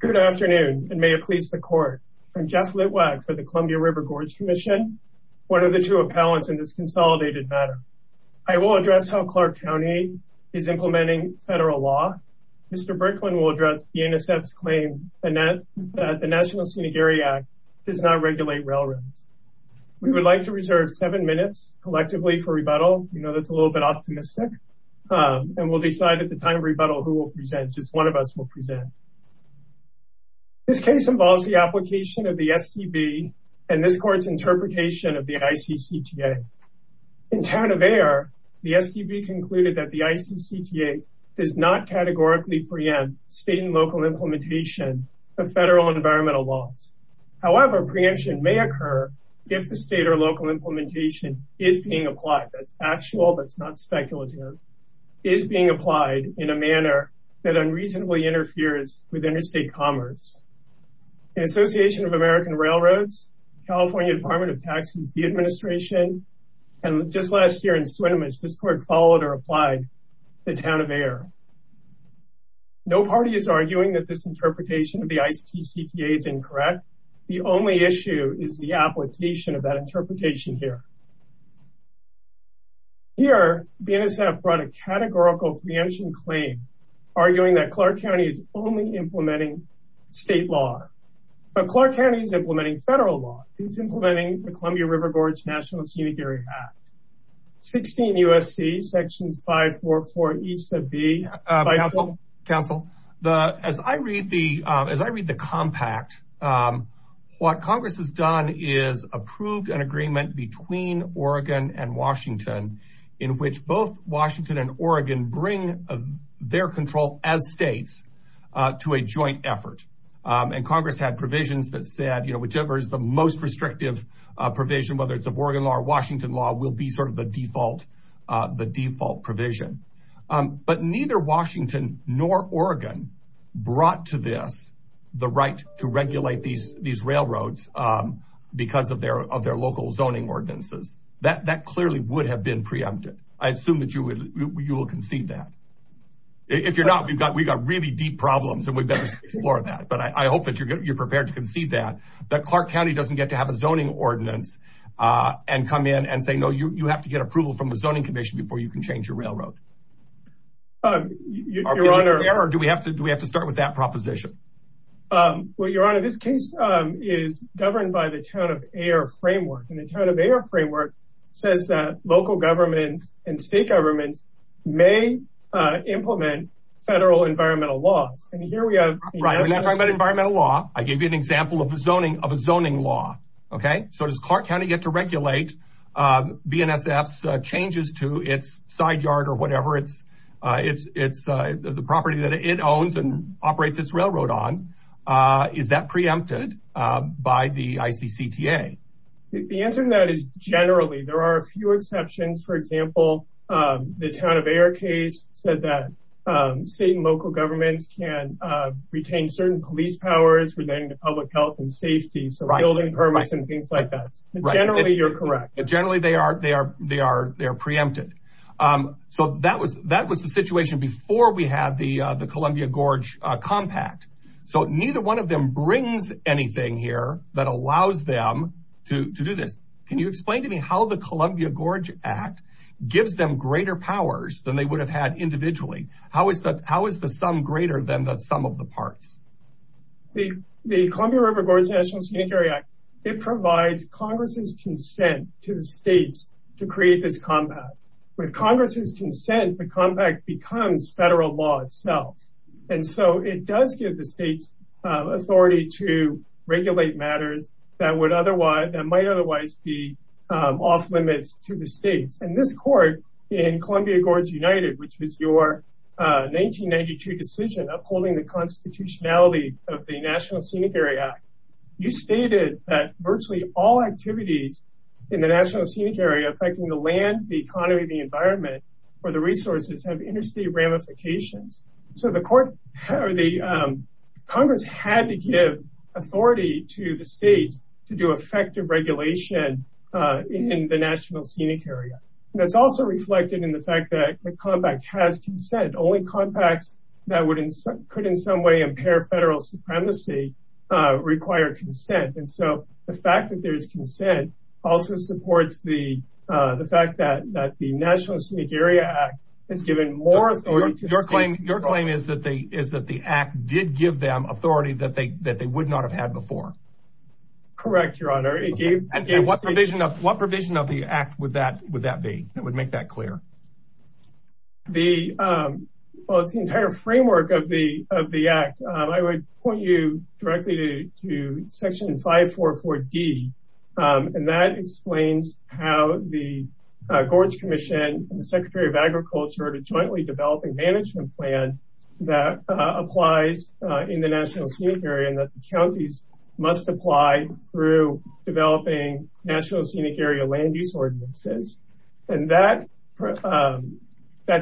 Good afternoon and may it please the court. I'm Jeff Litwack for the Columbia River Gorge Commission. One of the two appellants in this consolidated matter. I will address how Clark County is implementing federal law. Mr. Bricklin will address the NSF's claim that the National Scenic Area Act does not regulate railroads. We would like to reserve seven minutes collectively for rebuttal. You know that's a little bit optimistic and we'll decide at the time of present. This case involves the application of the STB and this court's interpretation of the ICCTA. In town of Ayer, the STB concluded that the ICCTA does not categorically preempt state and local implementation of federal environmental laws. However, preemption may occur if the state or local implementation is being applied. That's actual, that's not speculative, is being applied in a manner that unreasonably interferes with interstate commerce. The Association of American Railroads, California Department of Tax and Fee Administration, and just last year in Swinomish, this court followed or applied the town of Ayer. No party is arguing that this interpretation of the ICCTA is incorrect. The only issue is the application of that interpretation here. Here, BNSF brought a categorical preemption claim arguing that Clark County is only implementing state law, but Clark County is implementing federal law. It's implementing the Columbia River Gorge National Scenic Area Act. 16 U.S.C. section 544 E.B. Council, as I read the compact, what Congress has done is approved an agreement between Oregon and Washington in which both Washington and Oregon bring their control as states to a joint effort. Congress had provisions that said, whichever is the most restrictive provision, whether it's of Oregon law or Washington law, will be sort of the default provision. Neither Washington nor Oregon brought to this the right to regulate these railroads because of their local zoning ordinances. That clearly would have been preempted. I assume that you will concede that. If you're not, we've got really deep problems and we'd better explore that, but I hope that you're prepared to concede that Clark County doesn't get to have a zoning ordinance and come in and say, no, you have to get approval from the zoning commission before you can change your railroad. Do we have to start with that proposition? Well, Your Honor, this case is governed by the Town of Ayer framework, and the Town of Ayer framework says that local governments and state governments may implement federal environmental laws. When I talk about environmental law, I gave you an example of a zoning law. So does Clark County get to regulate BNSF's changes to its side yard or whatever, the property that it owns and is that preempted by the ICCTA? The answer to that is generally. There are a few exceptions. For example, the Town of Ayer case said that state and local governments can retain certain police powers relating to public health and safety, so building permits and things like that. Generally, you're correct. Generally, they are preempted. So that was the situation before we compact. So neither one of them brings anything here that allows them to do this. Can you explain to me how the Columbia Gorge Act gives them greater powers than they would have had individually? How is the sum greater than the sum of the parts? The Columbia River Gorge National Scenic Area Act, it provides Congress's consent to the states to create this compact. With Congress's consent, the compact becomes federal law itself. And so it does give the states authority to regulate matters that might otherwise be off limits to the states. In this court, in Columbia Gorge United, which was your 1992 decision upholding the constitutionality of the National Scenic Area Act, you stated that virtually all activities in the National Scenic Area affecting the land, the economy, the environment, or the resources have interstate ramifications. So Congress had to give authority to the states to do effective regulation in the National Scenic Area. That's also reflected in the fact that the compact has consent. Only compacts that could in some way impair federal supremacy require consent. And so the fact that there's consent also supports the fact that the National Scenic Area Act has given more authority to the states. Your claim is that the act did give them authority that they would not have had before? Correct, your honor. What provision of the act would that be that would make that clear? Well, it's the entire framework of the act. I would point you directly to section 544D, and that explains how the Gorge Commission and the Secretary of Agriculture are jointly developing a management plan that applies in the National Scenic Area and that the counties must apply through developing National Scenic Area land use ordinances. And that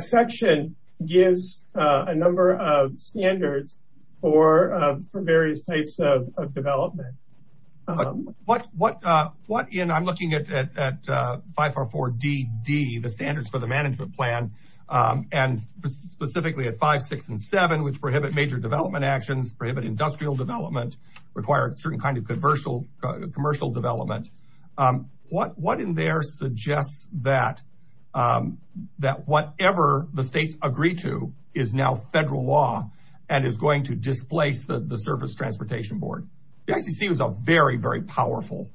section gives a number of standards for various types of development. But what in, I'm looking at 544DD, the standards for the management plan, and specifically at 5, 6, and 7, which prohibit major development actions, prohibit industrial development, require a certain kind of commercial development. What in there suggests that whatever the states agree to is now federal law and is going to a very, very powerful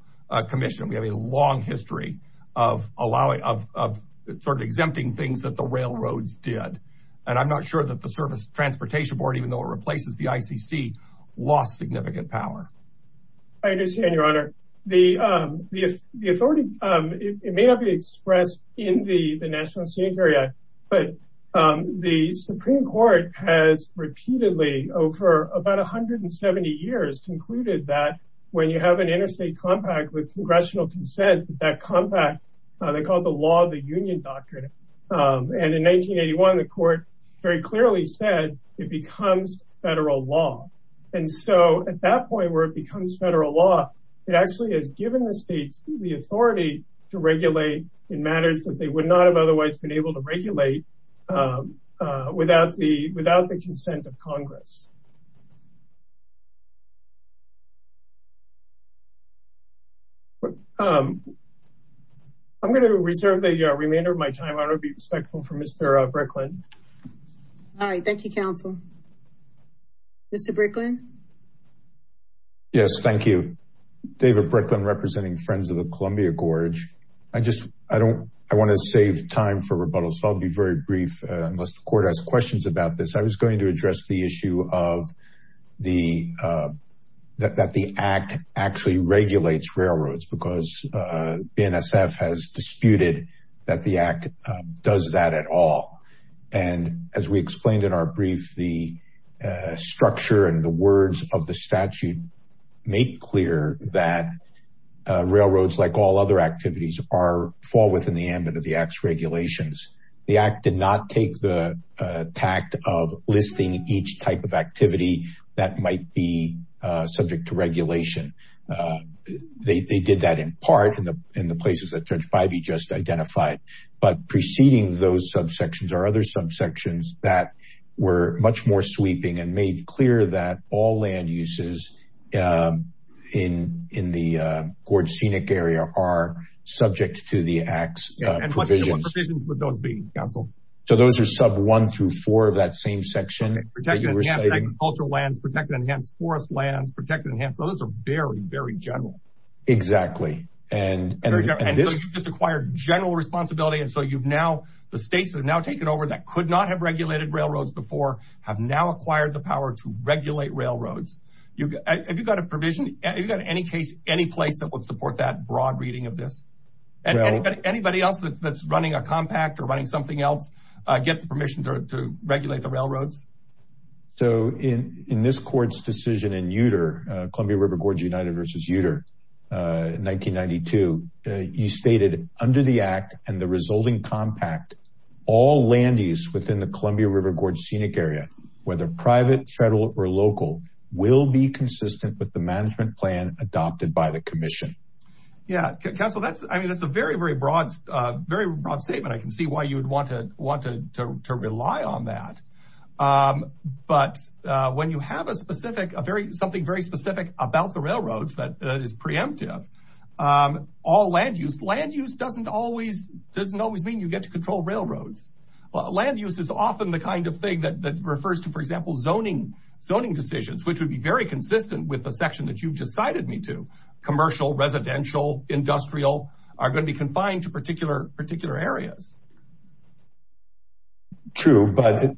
commission? We have a long history of sort of exempting things that the railroads did. And I'm not sure that the Service Transportation Board, even though it replaces the ICC, lost significant power. I understand, your honor. The authority, it may not be expressed in the National Scenic Area Act, but the Supreme Court has repeatedly, over about 170 years, concluded that when you have an interstate compact with congressional consent, that compact, they call it the Law of the Union Doctrine. And in 1981, the court very clearly said it becomes federal law. And so at that point where it becomes federal law, it actually has given the states the authority to regulate in matters that they would not have otherwise been able to regulate without the consent of Congress. I'm going to reserve the remainder of my time. I want to be respectful for Mr. Bricklin. All right. Thank you, counsel. Mr. Bricklin? Yes, thank you. David Bricklin, representing Friends of the Columbia Gorge. I just, I don't, I want to save time for rebuttal, so I'll be very brief unless the court has questions about this. I was going to address the issue of the, that the Act actually regulates railroads because BNSF has disputed that the Act does that at all. And as we explained in our brief, the structure and the words of the statute make clear that railroads, like all other activities, fall within the ambit of the Act's regulations. The Act did not take the tact of listing each type of activity that might be subject to regulation. They did that in part in the places that Judge Bivey just identified. But preceding those subsections are other subsections that were much more sweeping and made clear that all land uses in the Gorge Scenic Area are subject to the Act's provisions. And what provisions would those be, counsel? So those are sub one through four of that same section. Okay. Protected and enhanced agricultural lands, protected and enhanced forest lands, protected and enhanced. Those are very, very general. Exactly. And, and this... Very general. And so you've just acquired general responsibility. And so you've now, the states that have now taken over that could not have regulated railroads before have now acquired the power to regulate railroads. You, have you got a provision, have you got any case, any place that would support that broad reading of this? Anybody else that's running a compact or running something else, get the permission to regulate the railroads? So in, in this court's decision in Uter, Columbia River Gorge United versus Uter, 1992, you stated under the Act and the resulting compact, all land use within the Columbia River Scenic Area, whether private, federal, or local will be consistent with the management plan adopted by the commission. Yeah. Counsel, that's, I mean, that's a very, very broad, very broad statement. I can see why you'd want to want to, to, to rely on that. But when you have a specific, a very, something very specific about the railroads that is preemptive, all land use, land use doesn't always, doesn't always mean you get to control railroads. Well, land use is often the kind of thing that refers to, for example, zoning, zoning decisions, which would be very consistent with the section that you've just cited me to commercial, residential, industrial are going to be confined to particular, particular areas. True, but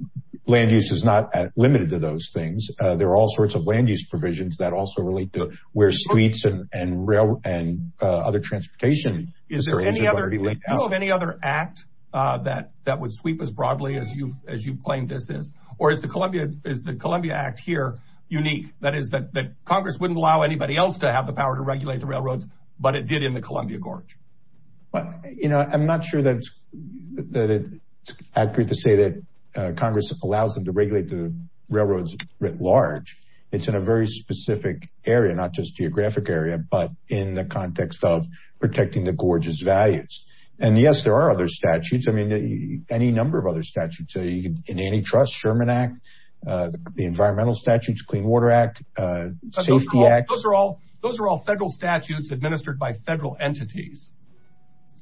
land use is not limited to those things. There are all sorts of land use provisions that also relate to where suites and, and rail and other transportation. Is there any other, do you know of any other act that, that would sweep as broadly as you've, as you've claimed this is, or is the Columbia, is the Columbia Act here unique? That is that, that Congress wouldn't allow anybody else to have the power to regulate the railroads, but it did in the Columbia Gorge. You know, I'm not sure that it's accurate to say that Congress allows them to regulate the railroads writ large. It's in a very specific area, not just geographic area, but in the context of protecting the gorgeous values. And yes, there are other statutes. I mean, any number of other statutes in antitrust Sherman act, the environmental statutes, clean water act, safety act, those are all, those are all federal statutes administered by federal entities.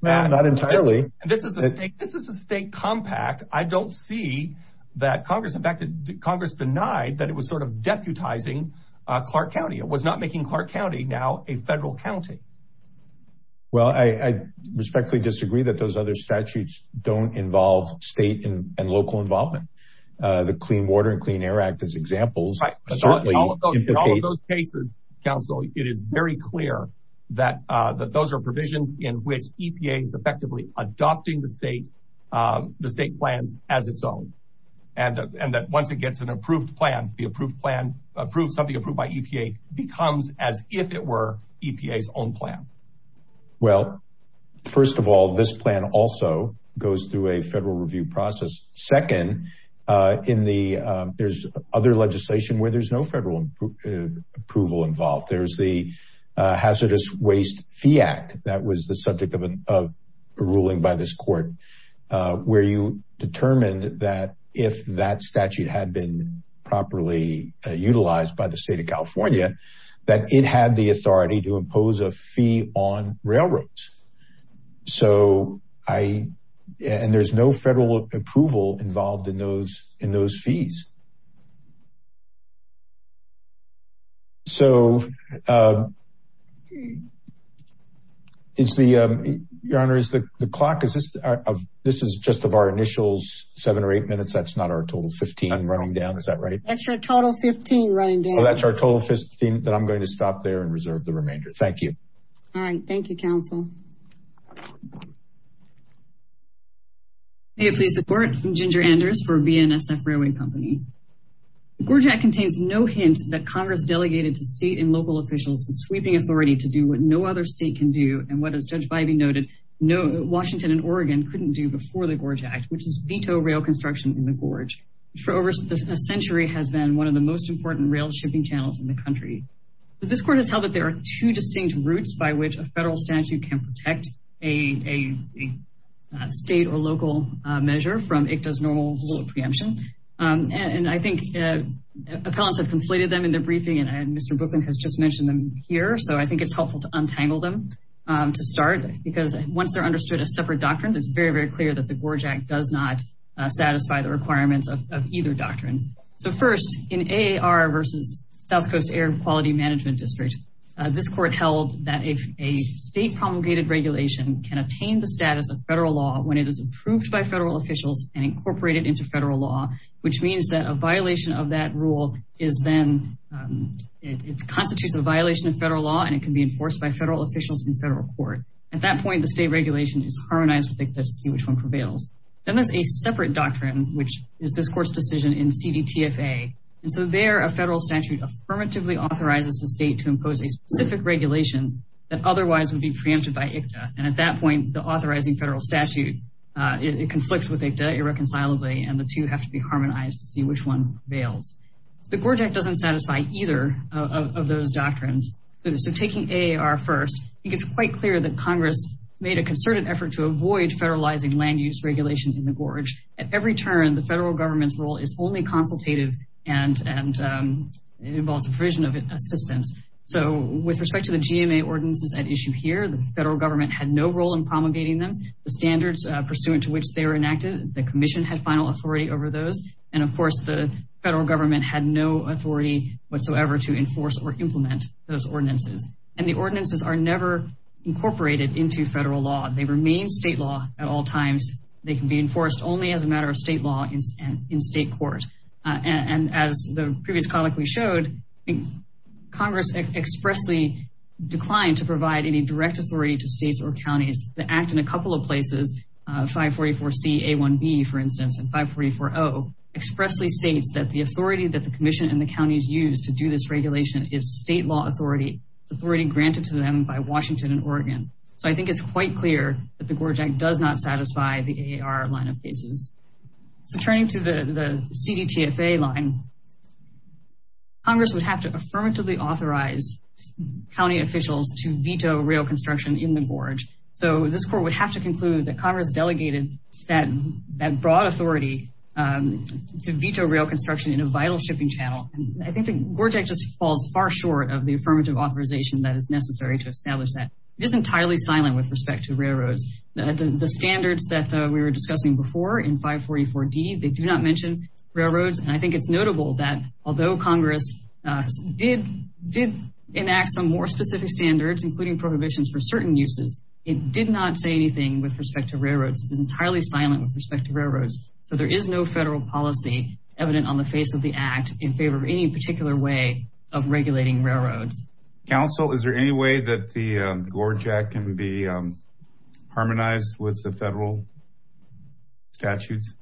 Not entirely. This is the state, this is a state compact. I don't see that Congress in fact, Congress denied that it was sort of deputizing Clark County. It was not making Clark County now a federal county. Well, I respectfully disagree that those other statutes don't involve state and local involvement. The clean water and clean air act as examples. Right. In all of those cases, counsel, it is very clear that, uh, that those are provisions in which EPA is effectively adopting the state, um, the state plans as its own. And, and that once it gets an approved plan, the approved plan approved, something approved by EPA becomes as if it were EPA's own plan. Well, first of all, this plan also goes through a federal review process. Second, uh, in the, um, there's other legislation where there's no federal approval involved. There's the, uh, hazardous waste fee act. That was the subject of an, of a ruling by this court, uh, where you determined that if that statute had been properly utilized by the state of California, that it had the authority to impose a fee on railroads. So I, and there's no federal approval involved in those, in those fees. So, uh, it's the, um, your honor is the clock. Is this, uh, this is just of our initials that's not our total 15 running down. Is that right? That's your total 15 running down. So that's our total 15 that I'm going to stop there and reserve the remainder. Thank you. All right. Thank you, counsel. May it please the court, Ginger Anders for VNSF Railway Company. The GORJAC contains no hint that Congress delegated to state and local officials, the sweeping authority to do what no other state can do. And what does Judge Biby noted, no Washington and Oregon couldn't do before the GORJAC, which is veto rail construction in the GORJ. For over a century has been one of the most important rail shipping channels in the country. This court has held that there are two distinct routes by which a federal statute can protect a state or local measure from ICTA's normal preemption. And I think, uh, appellants have conflated them in their briefing and Mr. Bookman has just mentioned them here. So I think it's helpful to untangle them, um, to start because once they're understood as separate doctrines, it's very, very clear that the GORJAC does not satisfy the requirements of either doctrine. So first in AAR versus South coast air quality management district, uh, this court held that if a state promulgated regulation can attain the status of federal law, when it is approved by federal officials and incorporated into federal law, which means that a violation of that rule is then, um, it's constitutes a violation of federal law and it can be enforced by federal court. At that point, the state regulation is harmonized with ICTA to see which one prevails. Then there's a separate doctrine, which is this court's decision in CDTFA. And so there, a federal statute affirmatively authorizes the state to impose a specific regulation that otherwise would be preempted by ICTA. And at that point, the authorizing federal statute, uh, it conflicts with ICTA irreconcilably and the two have to be harmonized to see which one prevails. So taking AAR first, I think it's quite clear that Congress made a concerted effort to avoid federalizing land use regulation in the GORJ. At every turn, the federal government's role is only consultative and, and, um, it involves a provision of assistance. So with respect to the GMA ordinances at issue here, the federal government had no role in promulgating them. The standards pursuant to which they were enacted, the commission had final authority over those. And of course the federal government had no authority whatsoever to enforce or implement those ordinances. And the ordinances are never incorporated into federal law. They remain state law at all times. They can be enforced only as a matter of state law in, in state court. Uh, and as the previous colleague we showed, Congress expressly declined to provide any direct authority to states or counties that act in a couple of places, uh, 544C A1B, for instance, and 544O expressly states that the authority that the commission and the counties use to do this regulation is state law authority. It's authority granted to them by Washington and Oregon. So I think it's quite clear that the GORJ Act does not satisfy the AAR line of cases. So turning to the, the CDTFA line, Congress would have to affirmatively authorize county officials to veto rail construction in the GORJ. So this court would have to conclude that Congress delegated that, that broad authority, um, to veto rail construction in a vital shipping channel. And I think the GORJ Act just falls far short of the affirmative authorization that is necessary to establish that. It is entirely silent with respect to railroads. The standards that we were discussing before in 544D, they do not mention railroads. And I think it's notable that although Congress, uh, did, did enact some more specific standards, including prohibitions for certain uses, it did not say anything with respect to railroads. It's entirely silent with respect to railroads. So there is no federal policy evident on the face of the act in favor of any particular way of regulating railroads. Counsel, is there any way that the, um, GORJ Act can be, um, harmonized with the federal statutes?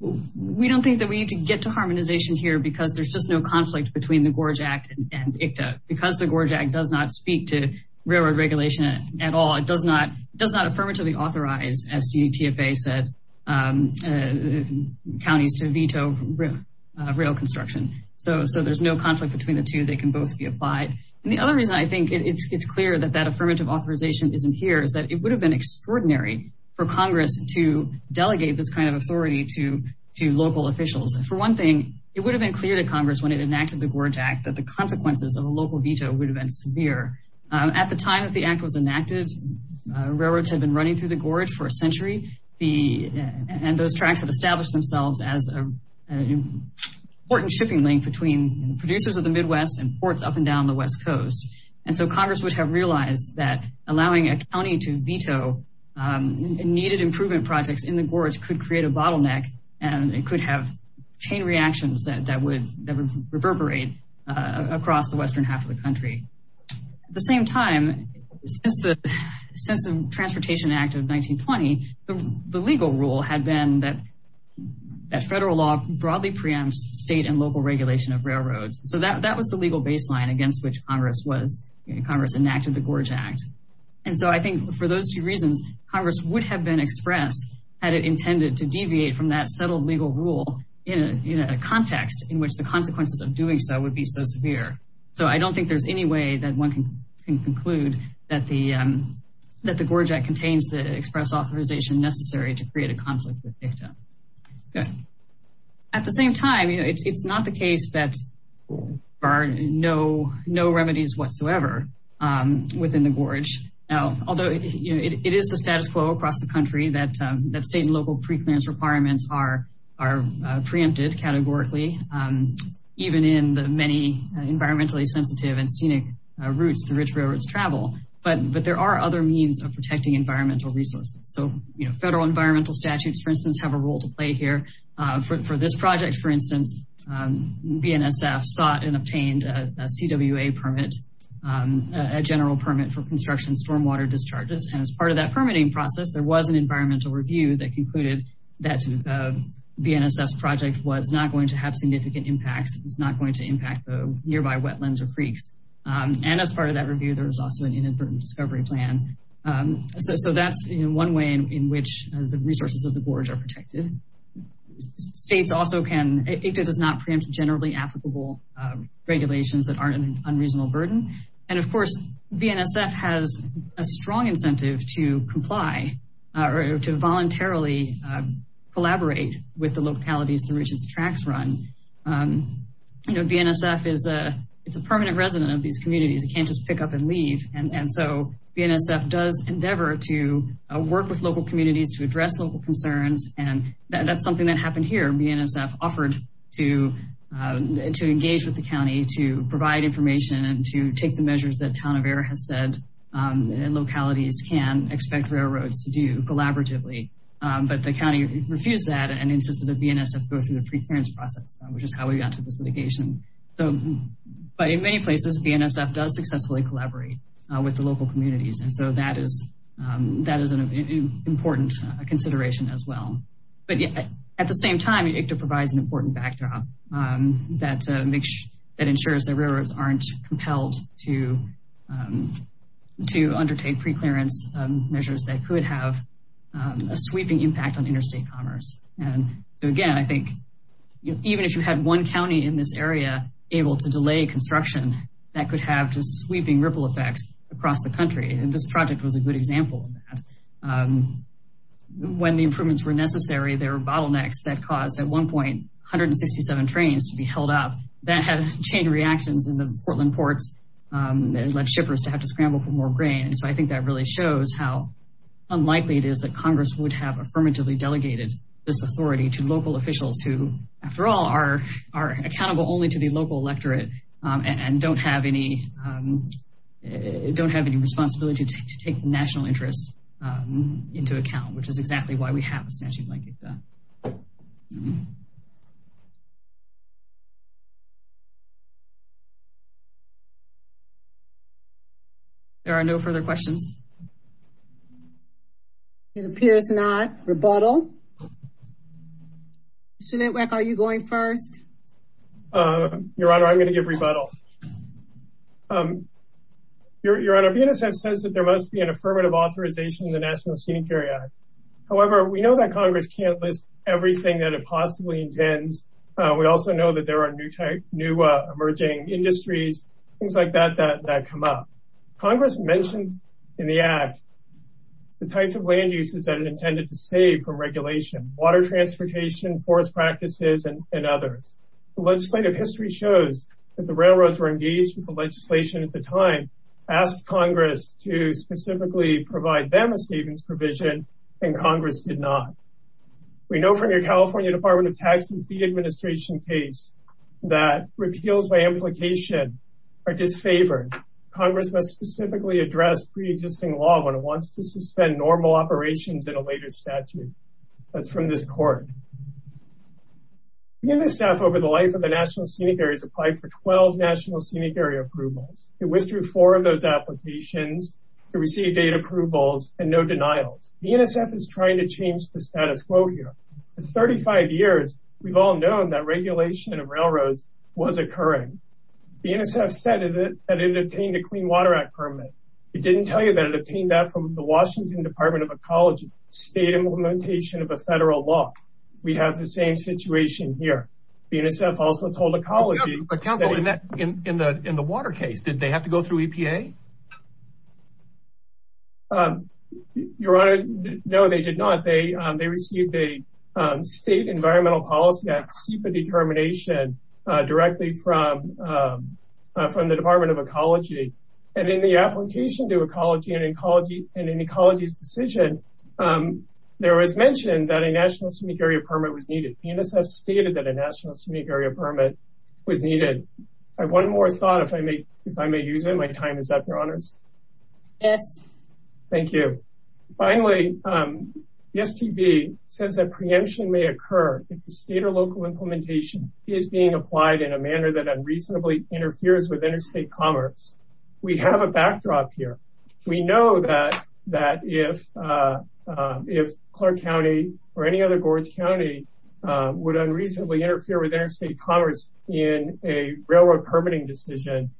We don't think that we need to get to harmonization here because there's just no conflict between the GORJ Act and ICTA. Because the GORJ Act does not speak to railroad regulation at all. It does not, it does not affirmatively authorize, as CTFA said, um, uh, counties to veto, uh, rail construction. So, so there's no conflict between the two. They can both be applied. And the other reason I think it's, it's clear that that affirmative authorization isn't here is that it would have been extraordinary for Congress to delegate this kind of authority to, to local officials. For one thing, it would have been clear to Congress when it enacted the GORJ Act that the consequences of a local veto would have been severe. Um, at the time that the act was enacted, uh, railroads had been running through the GORJ for a century. The, and those tracks had established themselves as a, an important shipping link between producers of the Midwest and ports up and down the West Coast. And so Congress would have realized that allowing a county to veto, um, needed improvement projects in the GORJ could create a bottleneck and it could have chain reactions that, that would, that would reverberate, uh, across the Western half of the country. At the same time, since the, since the Transportation Act of 1920, the legal rule had been that, that federal law broadly preempts state and local regulation of railroads. So that, that was the legal baseline against which Congress was, you know, Congress enacted the GORJ Act. And so I think for those two reasons, Congress would have been expressed had it intended to deviate from that settled legal rule in a context in which the consequences of doing so would be so severe. So I don't think there's any way that one can conclude that the, um, that the GORJ Act contains the express authorization necessary to create a conflict with DICTA. At the same time, you know, it's, it's not the case that there are no, no remedies whatsoever, um, within the GORJ. Now, although it is the status quo across the country, that, um, that state and local preclearance requirements are, are, uh, preempted categorically, um, even in the many environmentally sensitive and scenic routes, the rich railroads travel, but, but there are other means of protecting environmental resources. So, you know, federal environmental statutes, for instance, have a role to play here. Uh, for, for this project, for instance, um, BNSF sought and obtained a CWA permit, um, a general permit for construction stormwater discharges. And as part of that permitting process, there was an environmental review that concluded that, um, BNSF's project was not going to have significant impacts. It's not going to impact the nearby wetlands or creeks. Um, and as part of that review, there was also an inadvertent discovery plan. Um, so, so that's one way in which the resources of the GORJ are protected. States also can, uh, DICTA does not preempt generally applicable, um, regulations that aren't an unreasonable burden. And of course, BNSF has a strong incentive to uh, or to voluntarily, uh, collaborate with the localities through which its tracks run. Um, you know, BNSF is a, it's a permanent resident of these communities. It can't just pick up and leave. And so BNSF does endeavor to work with local communities to address local concerns. And that's something that happened here. BNSF offered to, um, to engage with the county, to provide information and to take the measures that Town of Error has said, um, localities can expect railroads to do collaboratively. Um, but the county refused that and insisted that BNSF go through the preference process, which is how we got to this litigation. So, but in many places, BNSF does successfully collaborate with the local communities. And so that is, um, that is an important consideration as well. But at the same time, DICTA provides an important backdrop, um, that ensures that railroads aren't compelled to, um, to undertake preclearance, um, measures that could have, um, a sweeping impact on interstate commerce. And again, I think, you know, even if you had one county in this area able to delay construction, that could have just sweeping ripple effects across the country. And this project was a good example of that. Um, when the improvements were necessary, there were bottlenecks that caused at one point 167 trains to be held up that had chain reactions in the Portland ports, um, that led shippers to have to scramble for more grain. And so I think that really shows how unlikely it is that Congress would have affirmatively delegated this authority to local officials who, after all, are accountable only to the local electorate, um, and don't have any, um, don't have any responsibility to take the national interest, um, into account, which is Thank you. Thank you. There are no further questions. It appears not. Rebuttal? Mr. Litwack, are you going first? Uh, Your Honor, I'm going to give rebuttal. Um, Your Honor, BNSF says that there must be an affirmative authorization in the National Scenic Area. However, we know that Congress can't list everything that it possibly intends. Uh, we also know that there are new type, new, uh, emerging industries, things like that, that, that come up. Congress mentioned in the act the types of land uses that it intended to save from regulation, water transportation, forest practices, and others. The legislative history shows that the railroads were engaged with the legislation at the time, asked Congress to specifically provide them a savings provision, and Congress did not. We know from your California Department of Tax and Fee Administration case that repeals by implication are disfavored. Congress must specifically address pre-existing law when it wants to suspend normal operations in a later statute. That's from this court. BNSF, over the life of the National Scenic Area, has applied for 12 National Scenic Area approvals. It withdrew four of those applications. It received eight approvals and no denials. BNSF is trying to change the status quo here. For 35 years, we've all known that regulation of railroads was occurring. BNSF said that it had obtained a Clean Water Act permit. It didn't tell you that it obtained that from the Washington Department of Ecology, State Implementation of a Federal Law. We have the same situation here. BNSF also told the No, they did not. They received a State Environmental Policy Act CEPA determination directly from the Department of Ecology. In the application to Ecology and in Ecology's decision, there was mentioned that a National Scenic Area permit was needed. BNSF stated that a National Scenic Area permit was needed. I have one more thought, if I may use it. My time is up, Your Finally, the STB says that preemption may occur if the state or local implementation is being applied in a manner that unreasonably interferes with interstate commerce. We have a backdrop here. We know that if Clark County or any other Gorge County would unreasonably interfere with interstate commerce in a railroad permitting decision,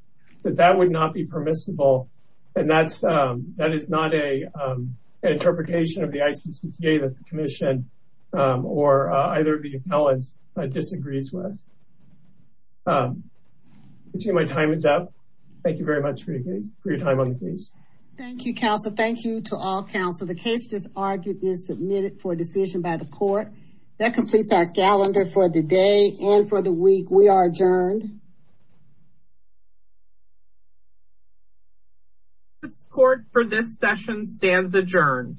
that that would not be permissible. And that is not an interpretation of the ICCTA that the Commission or either of the appellants disagrees with. I see my time is up. Thank you very much for your time on the case. Thank you, counsel. Thank you to all counsel. The case is argued and submitted for decision by the court. That completes our calendar for the day and for the week. We are adjourned. This court for this session stands adjourned.